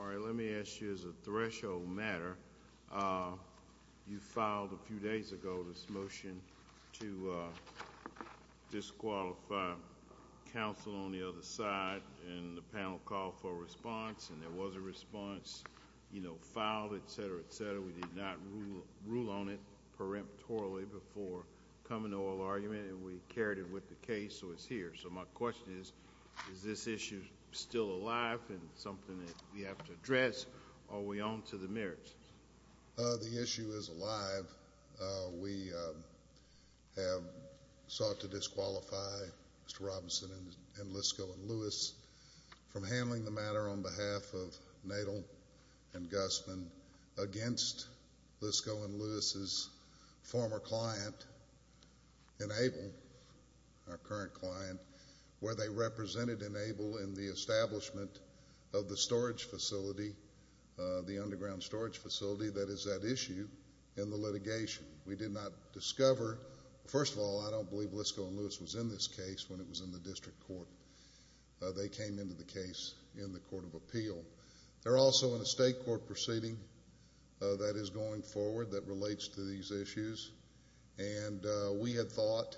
All right, let me ask you as a threshold matter, you filed a few days ago this motion to disqualify counsel on the other side, and the panel called for a response, and there was a response, you know, filed, et cetera, et cetera, we did not rule on it preemptorily before coming and we carried it with the case, so it's here, so my question is, is this issue still alive and something that we have to address, or are we on to the merits? The issue is alive, we have sought to disqualify Mr. Robinson and Lisco and Lewis from handling the matter on behalf of Nadel & Gussman against Lisco and Lewis's former client, Enable, our current client, where they represented Enable in the establishment of the storage facility, the underground storage facility that is at issue in the litigation. We did not discover, first of all, I don't believe Lisco and Lewis was in this case when it was in the district court, they came into the case in the Court of Appeal. They're also in a state court proceeding that is going forward that relates to these issues, and we had thought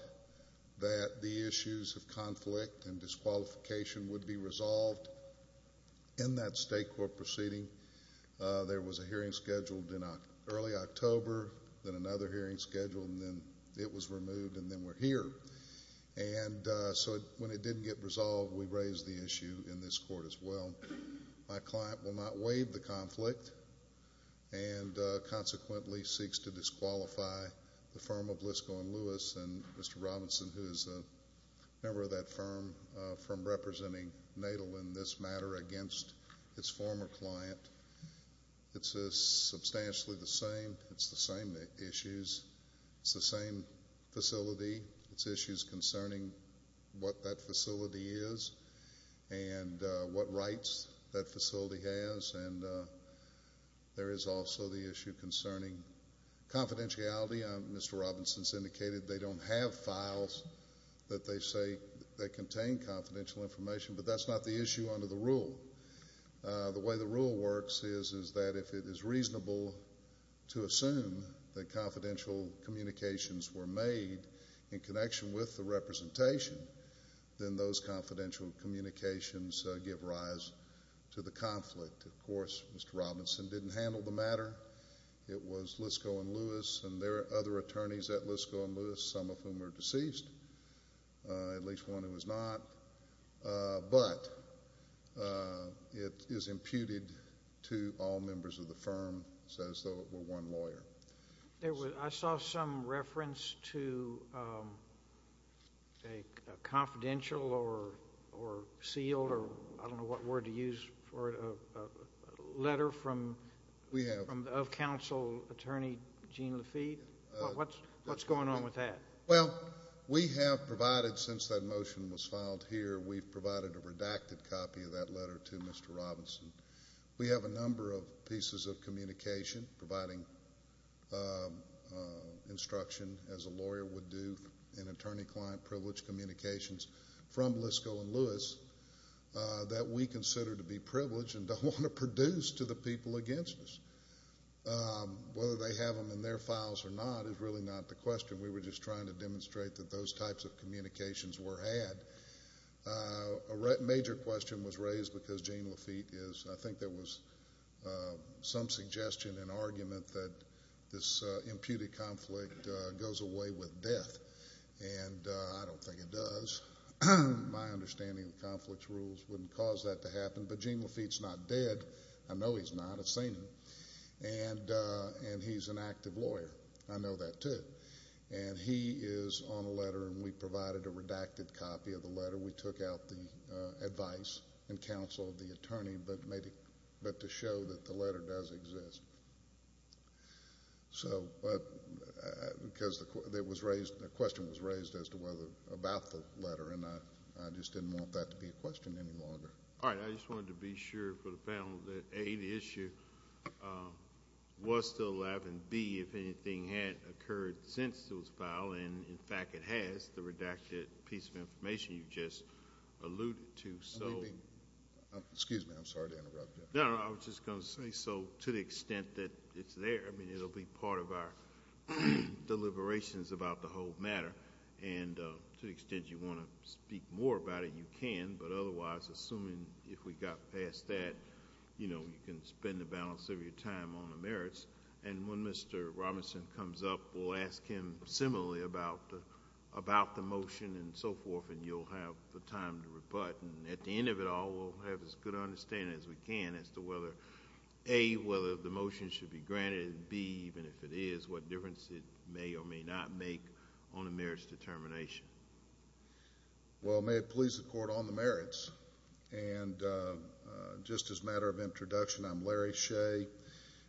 that the issues of conflict and disqualification would be resolved in that state court proceeding. There was a hearing scheduled in early October, then another hearing scheduled, and then it was removed, and then we're here. And so when it didn't get resolved, we raised the issue in this court as well. My client will not waive the conflict, and consequently seeks to disqualify the firm of Lisco and Lewis, and Mr. Robinson, who is a member of that firm, from representing Nadel in this matter against its former client. It's substantially the same, it's the same issues, it's the same facility, it's issues concerning what that facility is and what rights that facility has, and there is also the issue concerning confidentiality. Mr. Robinson has indicated they don't have files that they say contain confidential information, and that's the rule. The way the rule works is that if it is reasonable to assume that confidential communications were made in connection with the representation, then those confidential communications give rise to the conflict. Of course, Mr. Robinson didn't handle the matter. It was Lisco and Lewis and their other attorneys at Lisco and Lewis, some of whom are deceased, at least one who was not. But it is imputed to all members of the firm, as though it were one lawyer. I saw some reference to a confidential or seal, or I don't know what word to use, or a letter of counsel attorney Gene Lafitte. What's going on with that? Well, we have provided, since that motion was filed here, we've provided a redacted copy of that letter to Mr. Robinson. We have a number of pieces of communication, providing instruction as a lawyer would do in attorney-client privilege communications from Lisco and Lewis that we consider to be privileged and don't want to produce to the people against us. Whether they have them in their files or not is really not the question. We were just trying to demonstrate that those types of communications were had. A major question was raised because Gene Lafitte is, I think there was some suggestion and argument that this imputed conflict goes away with death. And I don't think it does. My understanding of the conflict's rules wouldn't cause that to happen. But Gene Lafitte's not dead. I know he's not. I've seen him. And he's an active lawyer. I know that too. And he is on a letter and we provided a redacted copy of the letter. We took out the advice and counsel of the attorney, but to show that the letter does exist. So, because the question was raised as to whether, about the letter, and I just didn't want that to be a question any longer. All right. I just wanted to be sure for the panel that, A, the issue was still alive. And, B, if anything had occurred since it was filed. And, in fact, it has, the redacted piece of information you just alluded to. Excuse me. I'm sorry to interrupt you. No, I was just going to say so to the extent that it's there. I mean, it'll be part of our deliberations about the whole matter. And to the extent you want to speak more about it, you can. But otherwise, assuming if we got past that, you know, you can spend the balance of your time on the merits. And when Mr. Robinson comes up, we'll ask him similarly about the motion and so forth. And you'll have the time to rebut. And at the end of it all, we'll have as good an understanding as we can as to whether, A, whether the motion should be granted. And, B, even if it is, what difference it may or may not make on the merits determination. Well, may it please the Court on the merits. And just as a matter of introduction, I'm Larry Shea.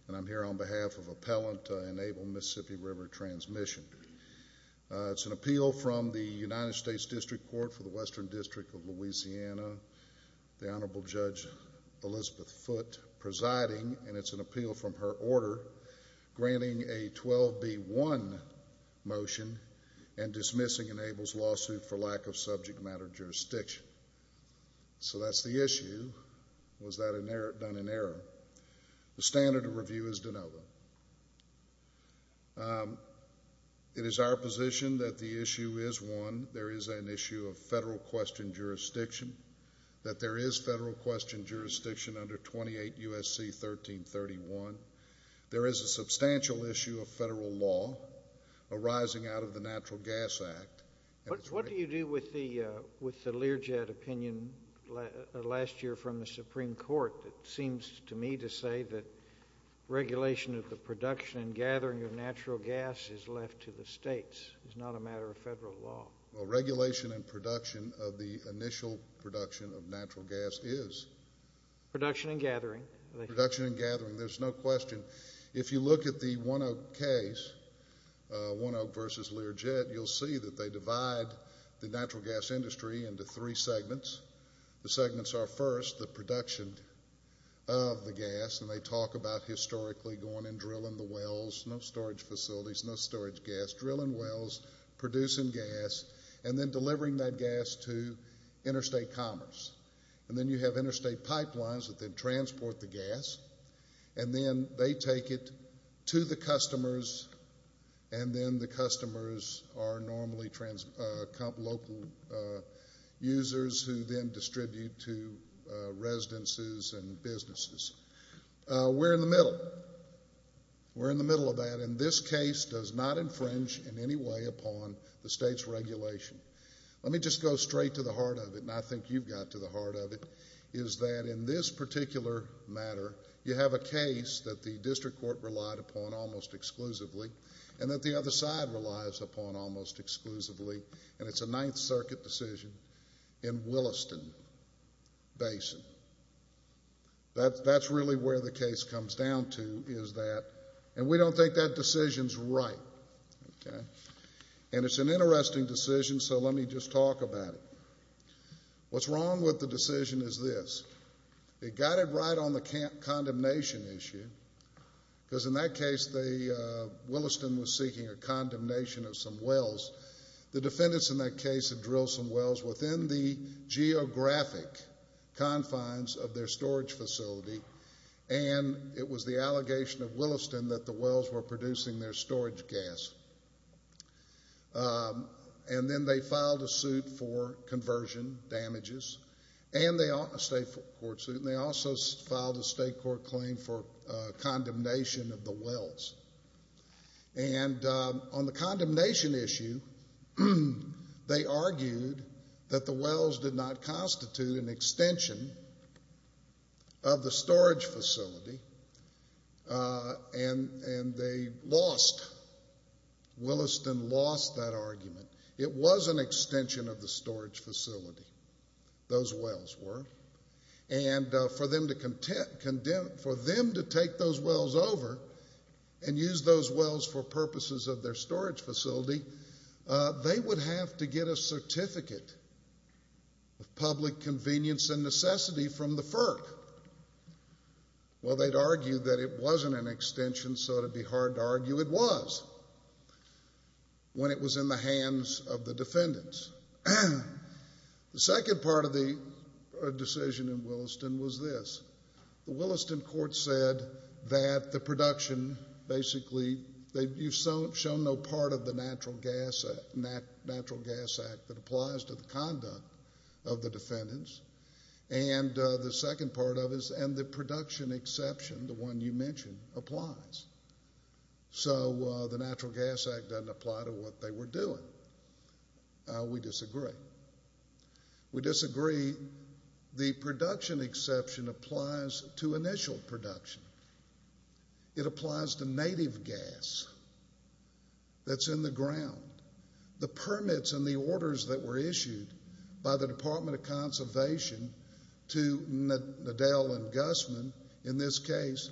And I'm here on behalf of Appellant Enable Mississippi River Transmission. It's an appeal from the United States District Court for the Western District of Louisiana, the Honorable Judge Elizabeth Foote presiding. And it's an appeal from her order granting a 12B1 motion and dismissing Enable's lawsuit for lack of subject matter jurisdiction. So that's the issue. Was that done in error? The standard of review is de novo. It is our position that the issue is one. There is an issue of federal question jurisdiction, that there is federal question jurisdiction under 28 U.S.C. 1331. There is a substantial issue of federal law arising out of the Natural Gas Act. What do you do with the Learjet opinion last year from the Supreme Court that seems to me to say that regulation of the production and gathering of natural gas is left to the states, is not a matter of federal law? Well, regulation and production of the initial production of natural gas is. Production and gathering. Production and gathering. There's no question. If you look at the One Oak case, One Oak versus Learjet, you'll see that they divide the natural gas industry into three segments. The segments are, first, the production of the gas, and they talk about historically going and drilling the wells, no storage facilities, no storage gas, drilling wells, producing gas, and then delivering that gas to interstate commerce. And then you have interstate pipelines that then transport the gas, and then they take it to the customers, and then the customers are normally local users who then distribute to residences and businesses. We're in the middle. We're in the middle of that, and this case does not infringe in any way upon the state's regulation. Let me just go straight to the heart of it, and I think you've got to the heart of it, is that in this particular matter, you have a case that the district court relied upon almost exclusively and that the other side relies upon almost exclusively, and it's a Ninth Circuit decision in Williston Basin. That's really where the case comes down to is that, and we don't think that decision's right, okay? And it's an interesting decision, so let me just talk about it. What's wrong with the decision is this. It got it right on the condemnation issue, because in that case, Williston was seeking a condemnation of some wells. The defendants in that case had drilled some wells within the geographic confines of their storage facility, and it was the allegation of Williston that the wells were producing their storage gas. And then they filed a suit for conversion damages, a state court suit, and they also filed a state court claim for condemnation of the wells. And on the condemnation issue, they argued that the wells did not constitute an extension of the storage facility, and they lost, Williston lost that argument. It was an extension of the storage facility, those wells were. And for them to take those wells over and use those wells for purposes of their storage facility, they would have to get a certificate of public convenience and necessity from the FERC. Well, they'd argue that it wasn't an extension, so it would be hard to argue it was, when it was in the hands of the defendants. The second part of the decision in Williston was this. The Williston court said that the production basically, you've shown no part of the Natural Gas Act that applies to the conduct of the defendants. And the second part of it is, and the production exception, the one you mentioned, applies. So the Natural Gas Act doesn't apply to what they were doing. We disagree. We disagree. The production exception applies to initial production. It applies to native gas that's in the ground. The permits and the orders that were issued by the Department of Conservation to Nadel and Gusman, in this case,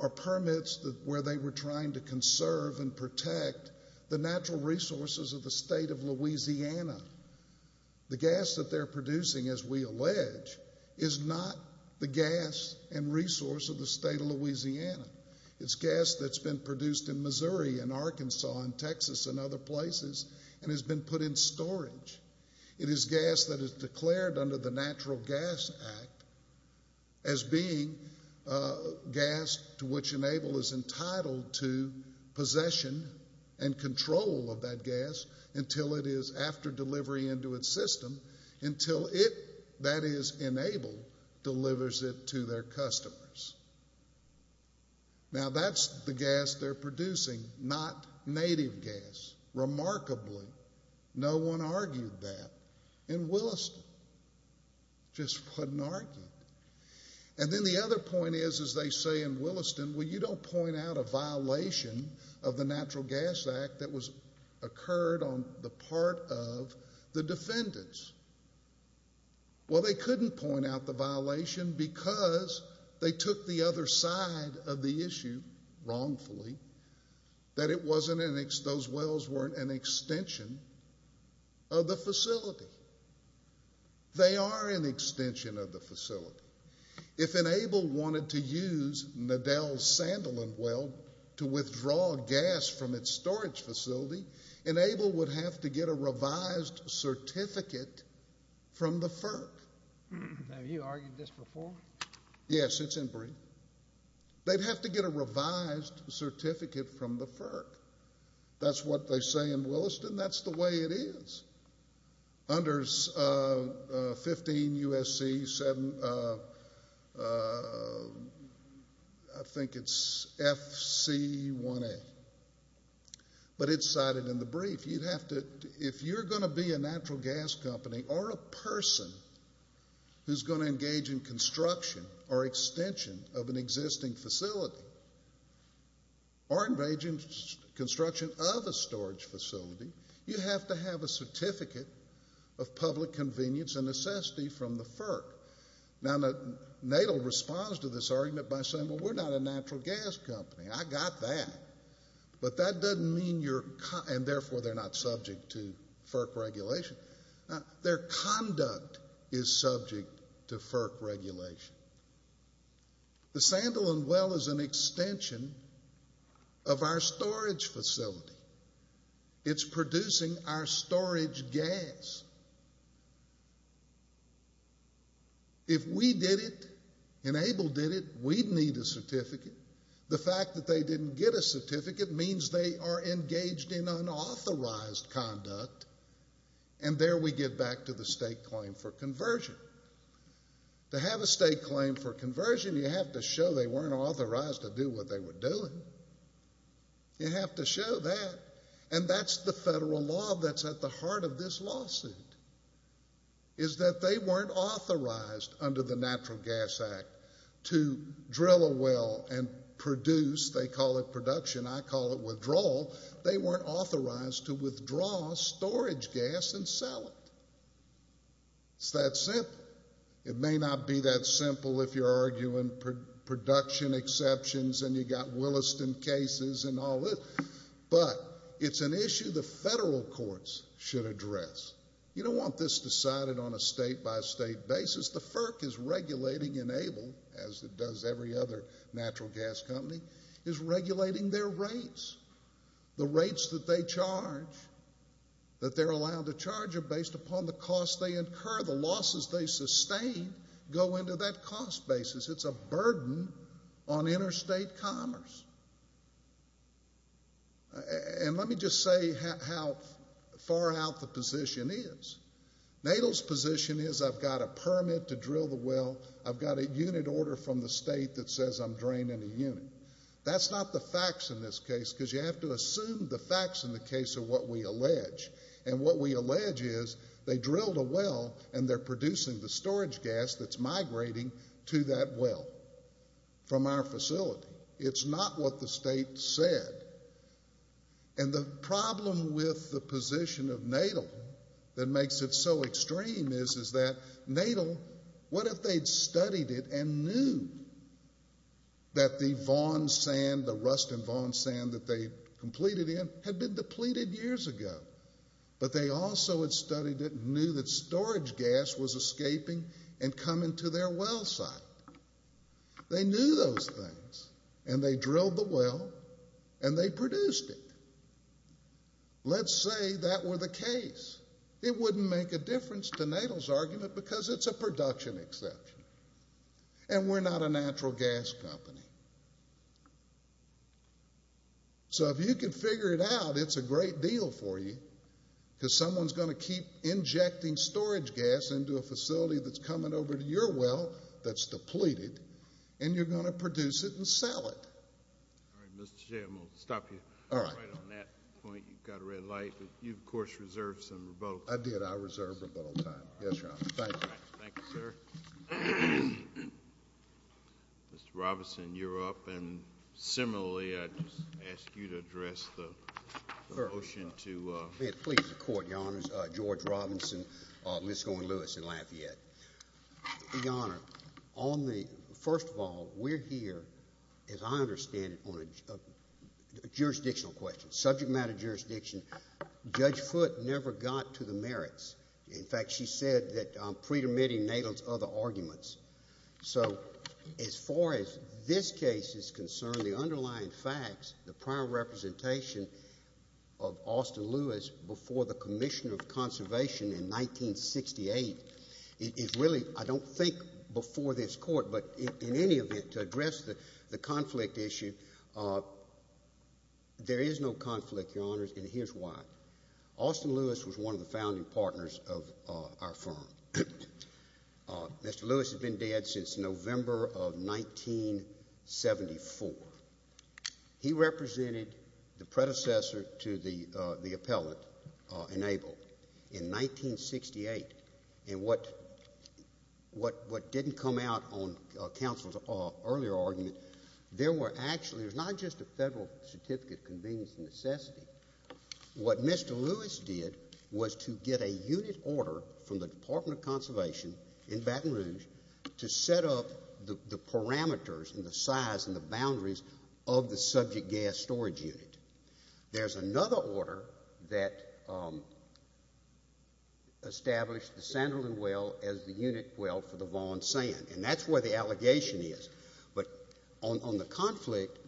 are permits where they were trying to conserve and protect the natural resources of the state of Louisiana. The gas that they're producing, as we allege, is not the gas and resource of the state of Louisiana. It's gas that's been produced in Missouri and Arkansas and Texas and other places and has been put in storage. It is gas that is declared under the Natural Gas Act as being gas to which Nadel is entitled to possession and control of that gas until it is, after delivery into its system, until it, that is, Nadel, delivers it to their customers. Now, that's the gas they're producing, not native gas. Remarkably, no one argued that in Williston. Just wasn't argued. And then the other point is, as they say in Williston, well, you don't point out a violation of the Natural Gas Act that occurred on the part of the defendants. Well, they couldn't point out the violation because they took the other side of the issue wrongfully, that those wells weren't an extension of the facility. They are an extension of the facility. If Enable wanted to use Nadel's sandalwood well to withdraw gas from its storage facility, Enable would have to get a revised certificate from the FERC. Have you argued this before? Yes, it's in brief. They'd have to get a revised certificate from the FERC. That's what they say in Williston. That's the way it is under 15 U.S.C. 7, I think it's F.C. 1A. But it's cited in the brief. If you're going to be a natural gas company or a person who's going to engage in construction or extension of an existing facility or engage in construction of a storage facility, you have to have a certificate of public convenience and necessity from the FERC. Now, Nadel responds to this argument by saying, well, we're not a natural gas company. I got that. But that doesn't mean you're – and therefore they're not subject to FERC regulation. Their conduct is subject to FERC regulation. The sandalwood well is an extension of our storage facility. It's producing our storage gas. If we did it, Enable did it, we'd need a certificate. The fact that they didn't get a certificate means they are engaged in unauthorized conduct. And there we get back to the state claim for conversion. To have a state claim for conversion, you have to show they weren't authorized to do what they were doing. You have to show that. And that's the federal law that's at the heart of this lawsuit, is that they weren't authorized under the Natural Gas Act to drill a well and produce. They call it production. I call it withdrawal. They weren't authorized to withdraw storage gas and sell it. It's that simple. It may not be that simple if you're arguing production exceptions and you've got Williston cases and all this. But it's an issue the federal courts should address. You don't want this decided on a state-by-state basis. The FERC is regulating Enable, as it does every other natural gas company, is regulating their rates. The rates that they charge, that they're allowed to charge, are based upon the costs they incur. The losses they sustain go into that cost basis. It's a burden on interstate commerce. And let me just say how far out the position is. NATO's position is I've got a permit to drill the well, I've got a unit order from the state that says I'm draining a unit. That's not the facts in this case, because you have to assume the facts in the case of what we allege. And what we allege is they drilled a well and they're producing the storage gas that's migrating to that well from our facility. It's not what the state said. And the problem with the position of NATO that makes it so extreme is that NATO, what if they'd studied it and knew that the Vaughan sand, the rust and Vaughan sand that they completed in had been depleted years ago? But they also had studied it and knew that storage gas was escaping and coming to their well site. They knew those things and they drilled the well and they produced it. Let's say that were the case. It wouldn't make a difference to NATO's argument because it's a production exception and we're not a natural gas company. So if you can figure it out, it's a great deal for you, because someone's going to keep injecting storage gas into a facility that's coming over to your well that's depleted and you're going to produce it and sell it. All right, Mr. Chairman. We'll stop you right on that point. You've got a red light. You, of course, reserved some rebuttal time. I did. I reserved rebuttal time. Yes, Your Honor. Thank you. Thank you, sir. Mr. Robinson, you're up. And similarly, I'd just ask you to address the motion. May it please the Court, Your Honors. George Robinson, Lisco and Lewis in Lafayette. Your Honor, first of all, we're here, as I understand it, on a jurisdictional question, subject matter jurisdiction. Judge Foote never got to the merits. In fact, she said that I'm pre-permitting NATO's other arguments. So as far as this case is concerned, the underlying facts, the prior representation of Austin Lewis before the Commission of Conservation in 1968 is really, I don't think, before this Court. But in any event, to address the conflict issue, there is no conflict, Your Honors, and here's why. Austin Lewis was one of the founding partners of our firm. Mr. Lewis has been dead since November of 1974. He represented the predecessor to the appellant, Enable, in 1968. And what didn't come out on counsel's earlier argument, there were actually, it was not just a federal certificate of convenience and necessity. What Mr. Lewis did was to get a unit order from the Department of Conservation in Baton Rouge to set up the parameters and the size and the boundaries of the subject gas storage unit. There's another order that established the Sanderlin Well as the unit well for the Vaughan Sand, and that's where the allegation is. But on the conflict,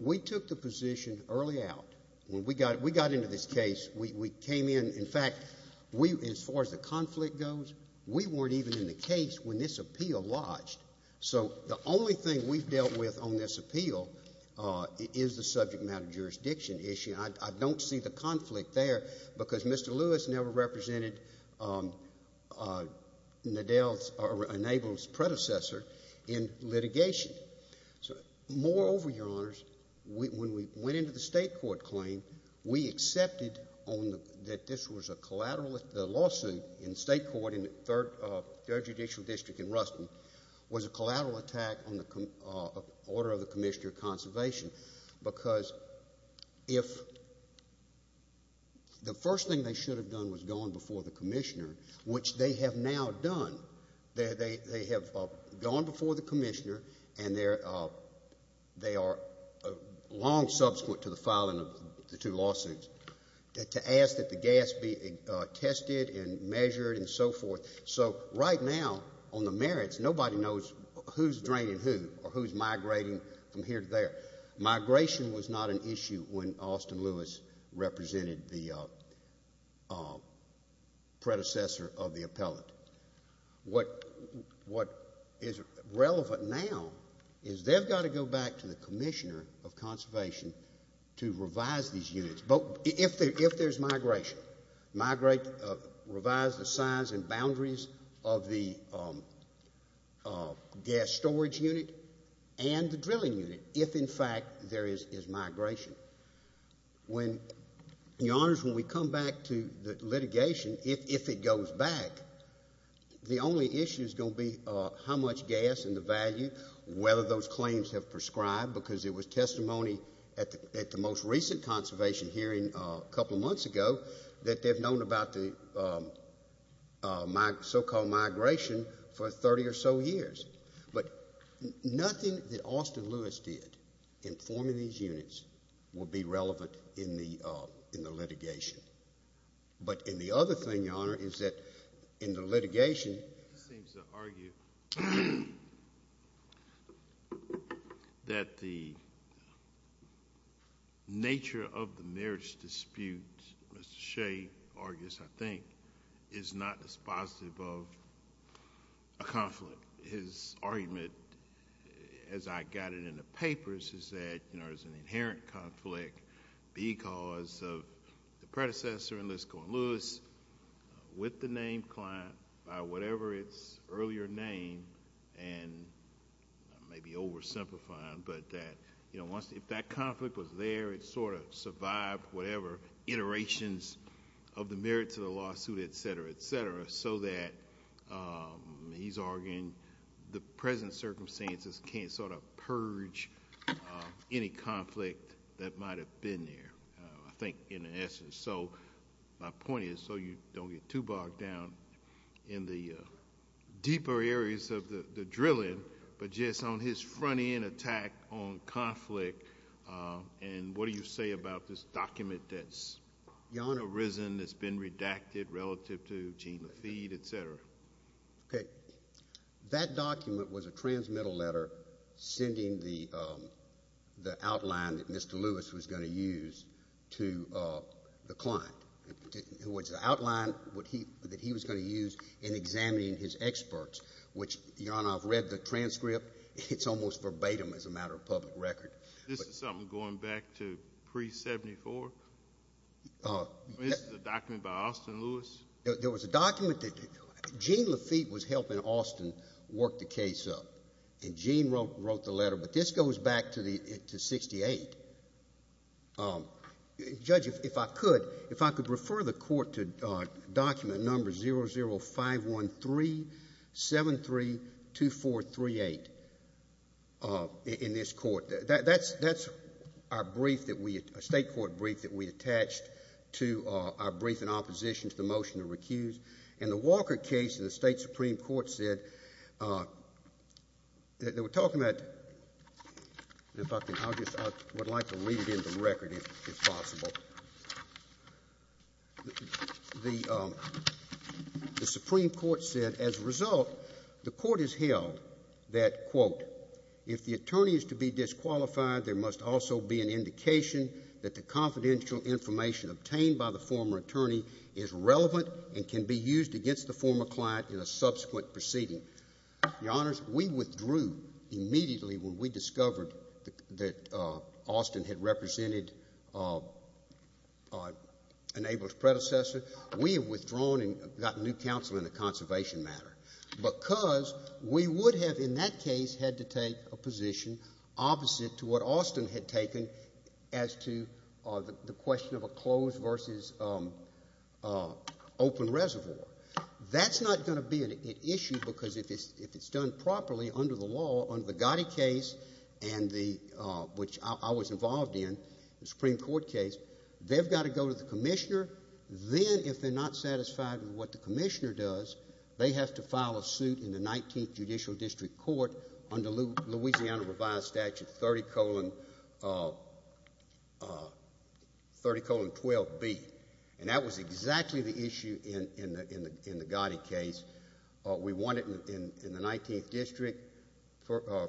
we took the position early out. When we got into this case, we came in, in fact, as far as the conflict goes, we weren't even in the case when this appeal lodged. So the only thing we've dealt with on this appeal is the subject matter jurisdiction issue, and I don't see the conflict there because Mr. Lewis never represented Enable's predecessor in litigation. So moreover, Your Honors, when we went into the state court claim, we accepted that this was a collateral lawsuit in state court in the third judicial district in Ruston was a collateral attack on the order of the Commissioner of Conservation because if the first thing they should have done was gone before the Commissioner, which they have now done, they have gone before the Commissioner and they are long subsequent to the filing of the two lawsuits, to ask that the gas be tested and measured and so forth. So right now on the merits, nobody knows who's draining who or who's migrating from here to there. Migration was not an issue when Austin Lewis represented the predecessor of the appellant. What is relevant now is they've got to go back to the Commissioner of Conservation to revise these units. If there's migration, revise the size and boundaries of the gas storage unit and the drilling unit, if in fact there is migration. When, Your Honors, when we come back to the litigation, if it goes back, the only issue is going to be how much gas and the value, whether those claims have prescribed, because it was testimony at the most recent conservation hearing a couple of months ago that they've known about the so-called migration for 30 or so years. But nothing that Austin Lewis did in forming these units will be relevant in the litigation. But the other thing, Your Honor, is that in the litigation. He seems to argue that the nature of the merits dispute, Mr. Shea argues, I think, is not dispositive of a conflict. His argument, as I got it in the papers, is that there's an inherent conflict because of the predecessor in this going loose with the named client by whatever its earlier name, and I may be oversimplifying, but that if that conflict was there, it sort of survived whatever iterations of the merits of the lawsuit, et cetera, et cetera, so that he's arguing the present circumstances can't sort of purge any conflict that might have been there, I think, in essence. So my point is, so you don't get too bogged down in the deeper areas of the drilling, but just on his front-end attack on conflict and what do you say about this document that's, Your Honor, that's been redacted relative to Gene Lafitte, et cetera. Okay. That document was a transmittal letter sending the outline that Mr. Lewis was going to use to the client. It was the outline that he was going to use in examining his experts, which, Your Honor, I've read the transcript. It's almost verbatim as a matter of public record. This is something going back to pre-'74? This is a document by Austin Lewis? There was a document that Gene Lafitte was helping Austin work the case up, and Gene wrote the letter, but this goes back to 1968. Judge, if I could, if I could refer the court to document number 00513732438 in this court. That's our brief that we, a state court brief that we attached to our brief in opposition to the motion to recuse. And the Walker case in the State Supreme Court said that they were talking about, and if I could, I would like to read it in the record if possible. The Supreme Court said, as a result, the court has held that, quote, if the attorney is to be disqualified, there must also be an indication that the confidential information obtained by the former attorney is relevant and can be used against the former client in a subsequent proceeding. Your Honors, we withdrew immediately when we discovered that Austin had represented an able predecessor. We have withdrawn and gotten new counsel in the conservation matter because we would have, in that case, had to take a position opposite to what Austin had taken as to the question of a closed versus open reservoir. That's not going to be an issue because if it's done properly under the law, under the Gotti case, and the, which I was involved in, the Supreme Court case, they've got to go to the commissioner. Then, if they're not satisfied with what the commissioner does, they have to file a suit in the 19th Judicial District Court under Louisiana revised statute 30-colon-12-B. And that was exactly the issue in the Gotti case. We won it in the 19th District.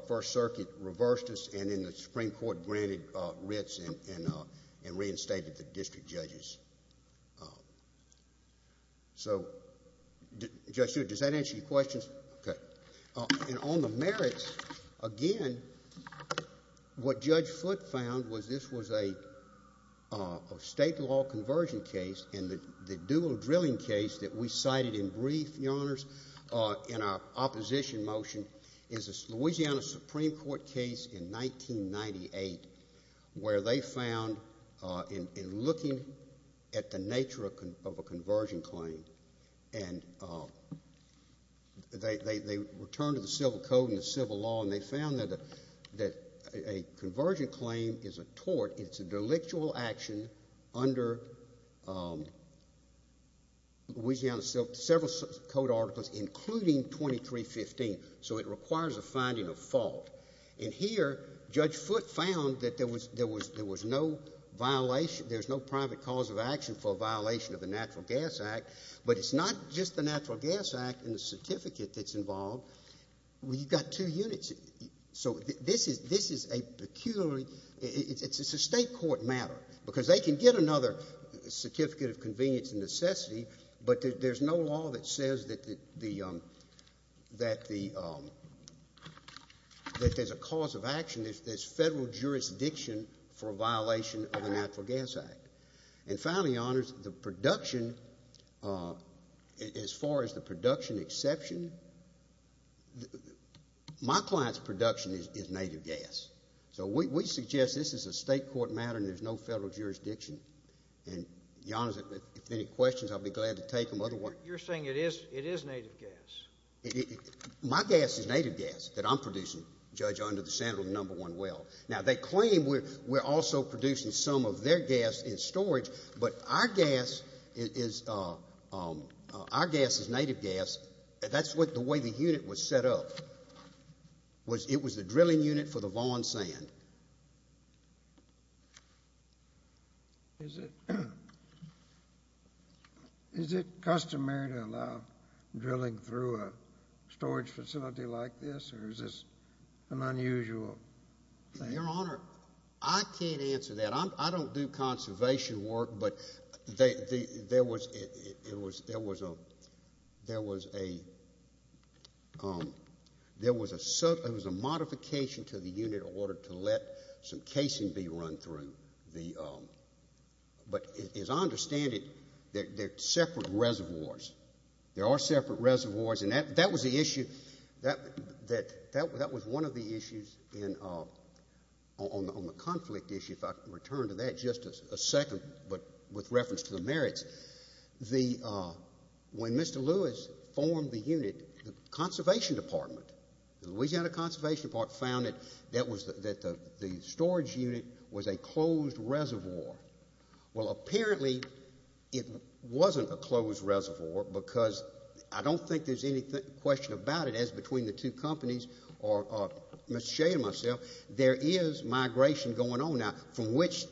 First Circuit reversed us and then the Supreme Court granted writs and reinstated the district judges. So, Judge Stewart, does that answer your questions? Okay. And on the merits, again, what Judge Foote found was this was a state law conversion case and the dual drilling case that we cited in brief, Your Honors, in our opposition motion, is a Louisiana Supreme Court case in 1998 where they found in looking at the nature of a conversion claim and they returned to the civil code and the civil law and they found that a conversion claim is a tort. It's an intellectual action under Louisiana civil code articles, including 2315. So it requires a finding of fault. And here, Judge Foote found that there was no violation, there's no private cause of action for a violation of the Natural Gas Act, but it's not just the Natural Gas Act and the certificate that's involved. We've got two units. So this is a peculiarly, it's a state court matter because they can get another certificate of convenience and necessity, but there's no law that says that there's a cause of action, there's federal jurisdiction for a violation of the Natural Gas Act. And finally, Your Honors, the production, as far as the production exception, my client's production is native gas. So we suggest this is a state court matter and there's no federal jurisdiction. And, Your Honors, if there are any questions, I'll be glad to take them. You're saying it is native gas? My gas is native gas that I'm producing, Judge, under the Senate of the number one well. Now, they claim we're also producing some of their gas in storage, but our gas is native gas. That's the way the unit was set up. It was the drilling unit for the Vaughan Sand. Is it customary to allow drilling through a storage facility like this, or is this an unusual thing? Your Honor, I can't answer that. I don't do conservation work, but there was a modification to the unit in order to let some casing be run through. But as I understand it, they're separate reservoirs. There are separate reservoirs, and that was the issue. And on the conflict issue, if I can return to that just a second, but with reference to the merits, when Mr. Lewis formed the unit, the conservation department, the Louisiana Conservation Department, found that the storage unit was a closed reservoir. Well, apparently it wasn't a closed reservoir because I don't think there's any question about it, as between the two companies or Mr. Shea and myself, there is migration going on now from which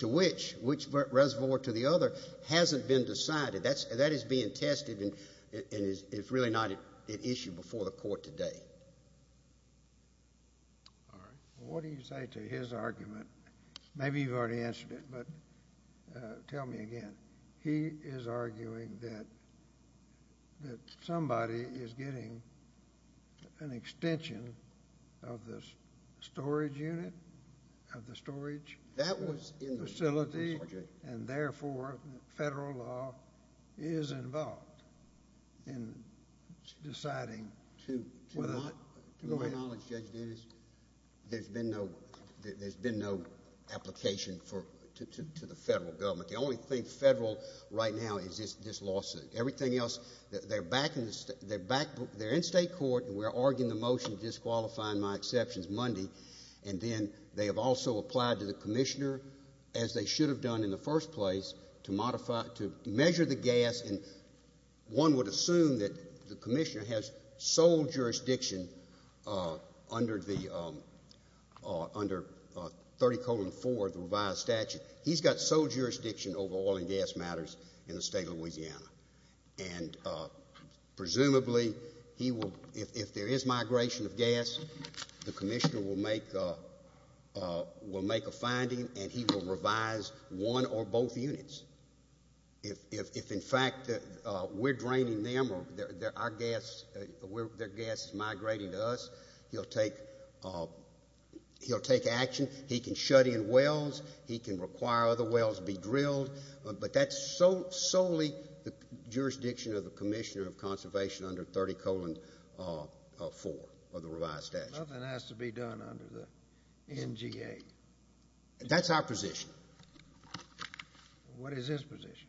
to which, which reservoir to the other hasn't been decided. That is being tested and is really not an issue before the court today. All right. What do you say to his argument? Maybe you've already answered it, but tell me again. He is arguing that somebody is getting an extension of the storage unit, of the storage facility, and therefore federal law is involved in deciding whether or not to go ahead. To my knowledge, Judge Davis, there's been no application to the federal government. The only thing federal right now is this lawsuit. Everything else, they're in state court and we're arguing the motion disqualifying my exceptions Monday, and then they have also applied to the commissioner, as they should have done in the first place, to measure the gas and one would assume that the commissioner has sole jurisdiction under 30-4, the revised statute. He's got sole jurisdiction over oil and gas matters in the state of Louisiana, and presumably he will, if there is migration of gas, the commissioner will make a finding and he will revise one or both units. If, in fact, we're draining them or their gas is migrating to us, he'll take action. He can shut in wells, he can require other wells be drilled, but that's solely the jurisdiction of the commissioner of conservation under 30-4 of the revised statute. Nothing has to be done under the NGA. That's our position. What is his position?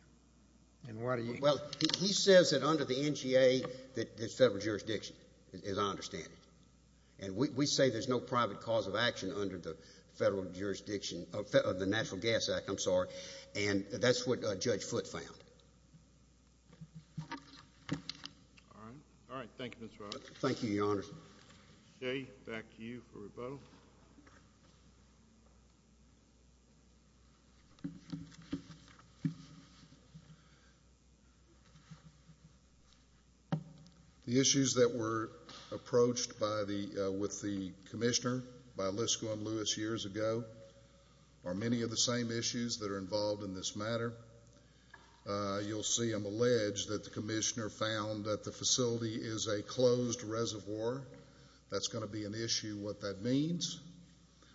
Well, he says that under the NGA there's federal jurisdiction, as I understand it, and we say there's no private cause of action under the federal jurisdiction of the National Gas Act, I'm sorry, and that's what Judge Foote found. All right. Thank you, Mr. Roberts. Thank you, Your Honor. Jay, back to you for rebuttal. Thank you. The issues that were approached with the commissioner by Lisko and Lewis years ago are many of the same issues that are involved in this matter. You'll see them allege that the commissioner found that the facility is a closed reservoir. That's going to be an issue. What that means?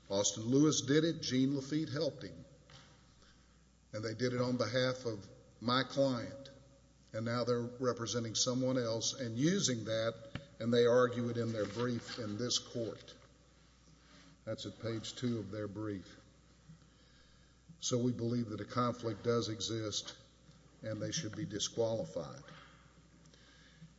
Austin Lewis did it. Gene Lafitte helped him. And they did it on behalf of my client, and now they're representing someone else and using that, and they argue it in their brief in this court. That's at page two of their brief. So we believe that a conflict does exist, and they should be disqualified.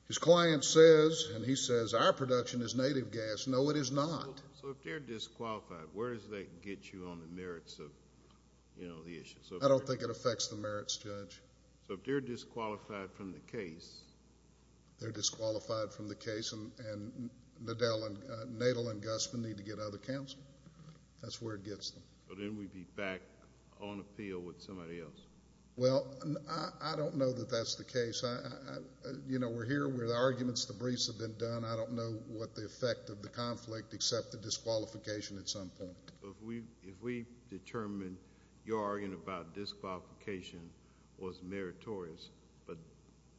His client says, and he says, our production is native gas. No, it is not. So if they're disqualified, where does that get you on the merits of the issue? I don't think it affects the merits, Judge. So if they're disqualified from the case. They're disqualified from the case, and Nadal and Gusman need to get other counsel. That's where it gets them. But then we'd be back on appeal with somebody else. Well, I don't know that that's the case. You know, we're here where the arguments, the briefs have been done. I don't know what the effect of the conflict except the disqualification at some point. If we determine your argument about disqualification was meritorious but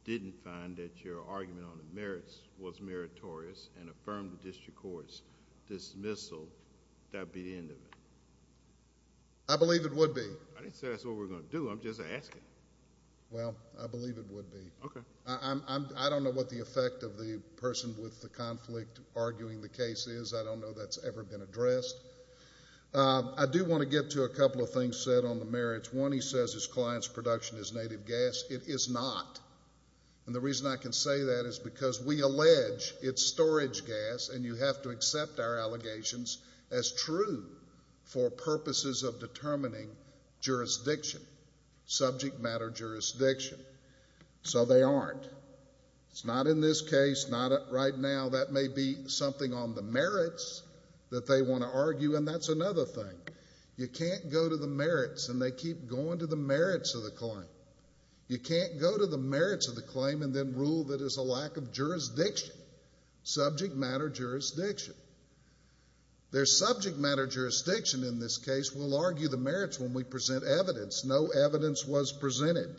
didn't find that your argument on the merits was meritorious and affirmed the district court's dismissal, that would be the end of it? I believe it would be. I didn't say that's what we're going to do. I'm just asking. Well, I believe it would be. Okay. I don't know what the effect of the person with the conflict arguing the case is. I don't know that's ever been addressed. I do want to get to a couple of things said on the merits. One, he says his client's production is native gas. It is not. And the reason I can say that is because we allege it's storage gas, and you have to accept our allegations as true for purposes of determining jurisdiction, subject matter jurisdiction. So they aren't. It's not in this case, not right now. That may be something on the merits that they want to argue, and that's another thing. You can't go to the merits, and they keep going to the merits of the claim. You can't go to the merits of the claim and then rule that it's a lack of jurisdiction, subject matter jurisdiction. There's subject matter jurisdiction in this case. We'll argue the merits when we present evidence. No evidence was presented.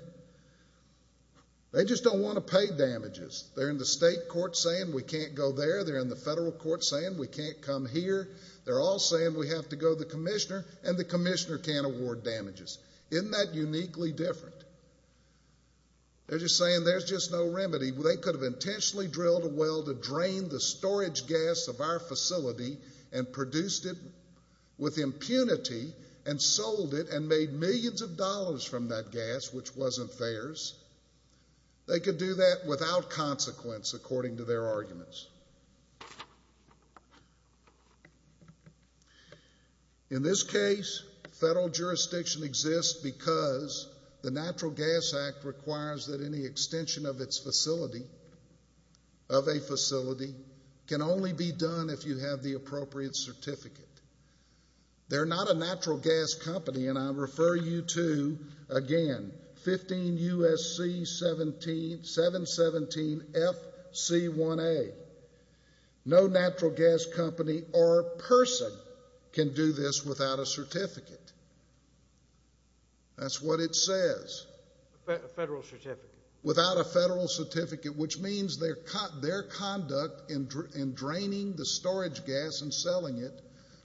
They just don't want to pay damages. They're in the state court saying we can't go there. They're in the federal court saying we can't come here. They're all saying we have to go to the commissioner, and the commissioner can't award damages. Isn't that uniquely different? They're just saying there's just no remedy. They could have intentionally drilled a well to drain the storage gas of our facility and produced it with impunity and sold it and made millions of dollars from that gas, which wasn't theirs. They could do that without consequence, according to their arguments. In this case, federal jurisdiction exists because the Natural Gas Act requires that any extension of its facility, of a facility, can only be done if you have the appropriate certificate. They're not a natural gas company, and I refer you to, again, 15 U.S.C. 717 FC1A. No natural gas company or person can do this without a certificate. That's what it says. A federal certificate. Without a federal certificate, which means their conduct in draining the storage gas and selling it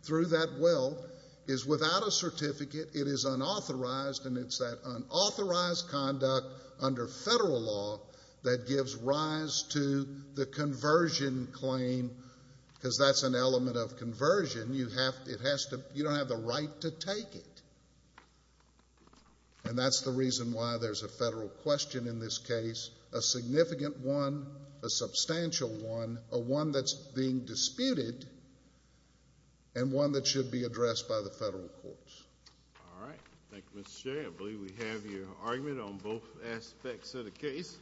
through that well is without a certificate. It is unauthorized, and it's that unauthorized conduct under federal law that gives rise to the conversion claim, because that's an element of conversion. You don't have the right to take it. And that's the reason why there's a federal question in this case, a significant one, a substantial one, a one that's being disputed, and one that should be addressed by the federal courts. All right. Thank you, Mr. Chair. I believe we have your argument on both aspects of the case.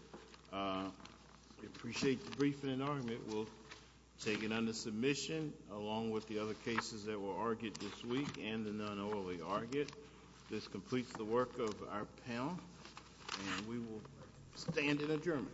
We appreciate the briefing and argument. We'll take it under submission along with the other cases that were argued this week and the non-orally argued. This completes the work of our panel, and we will stand in adjournment.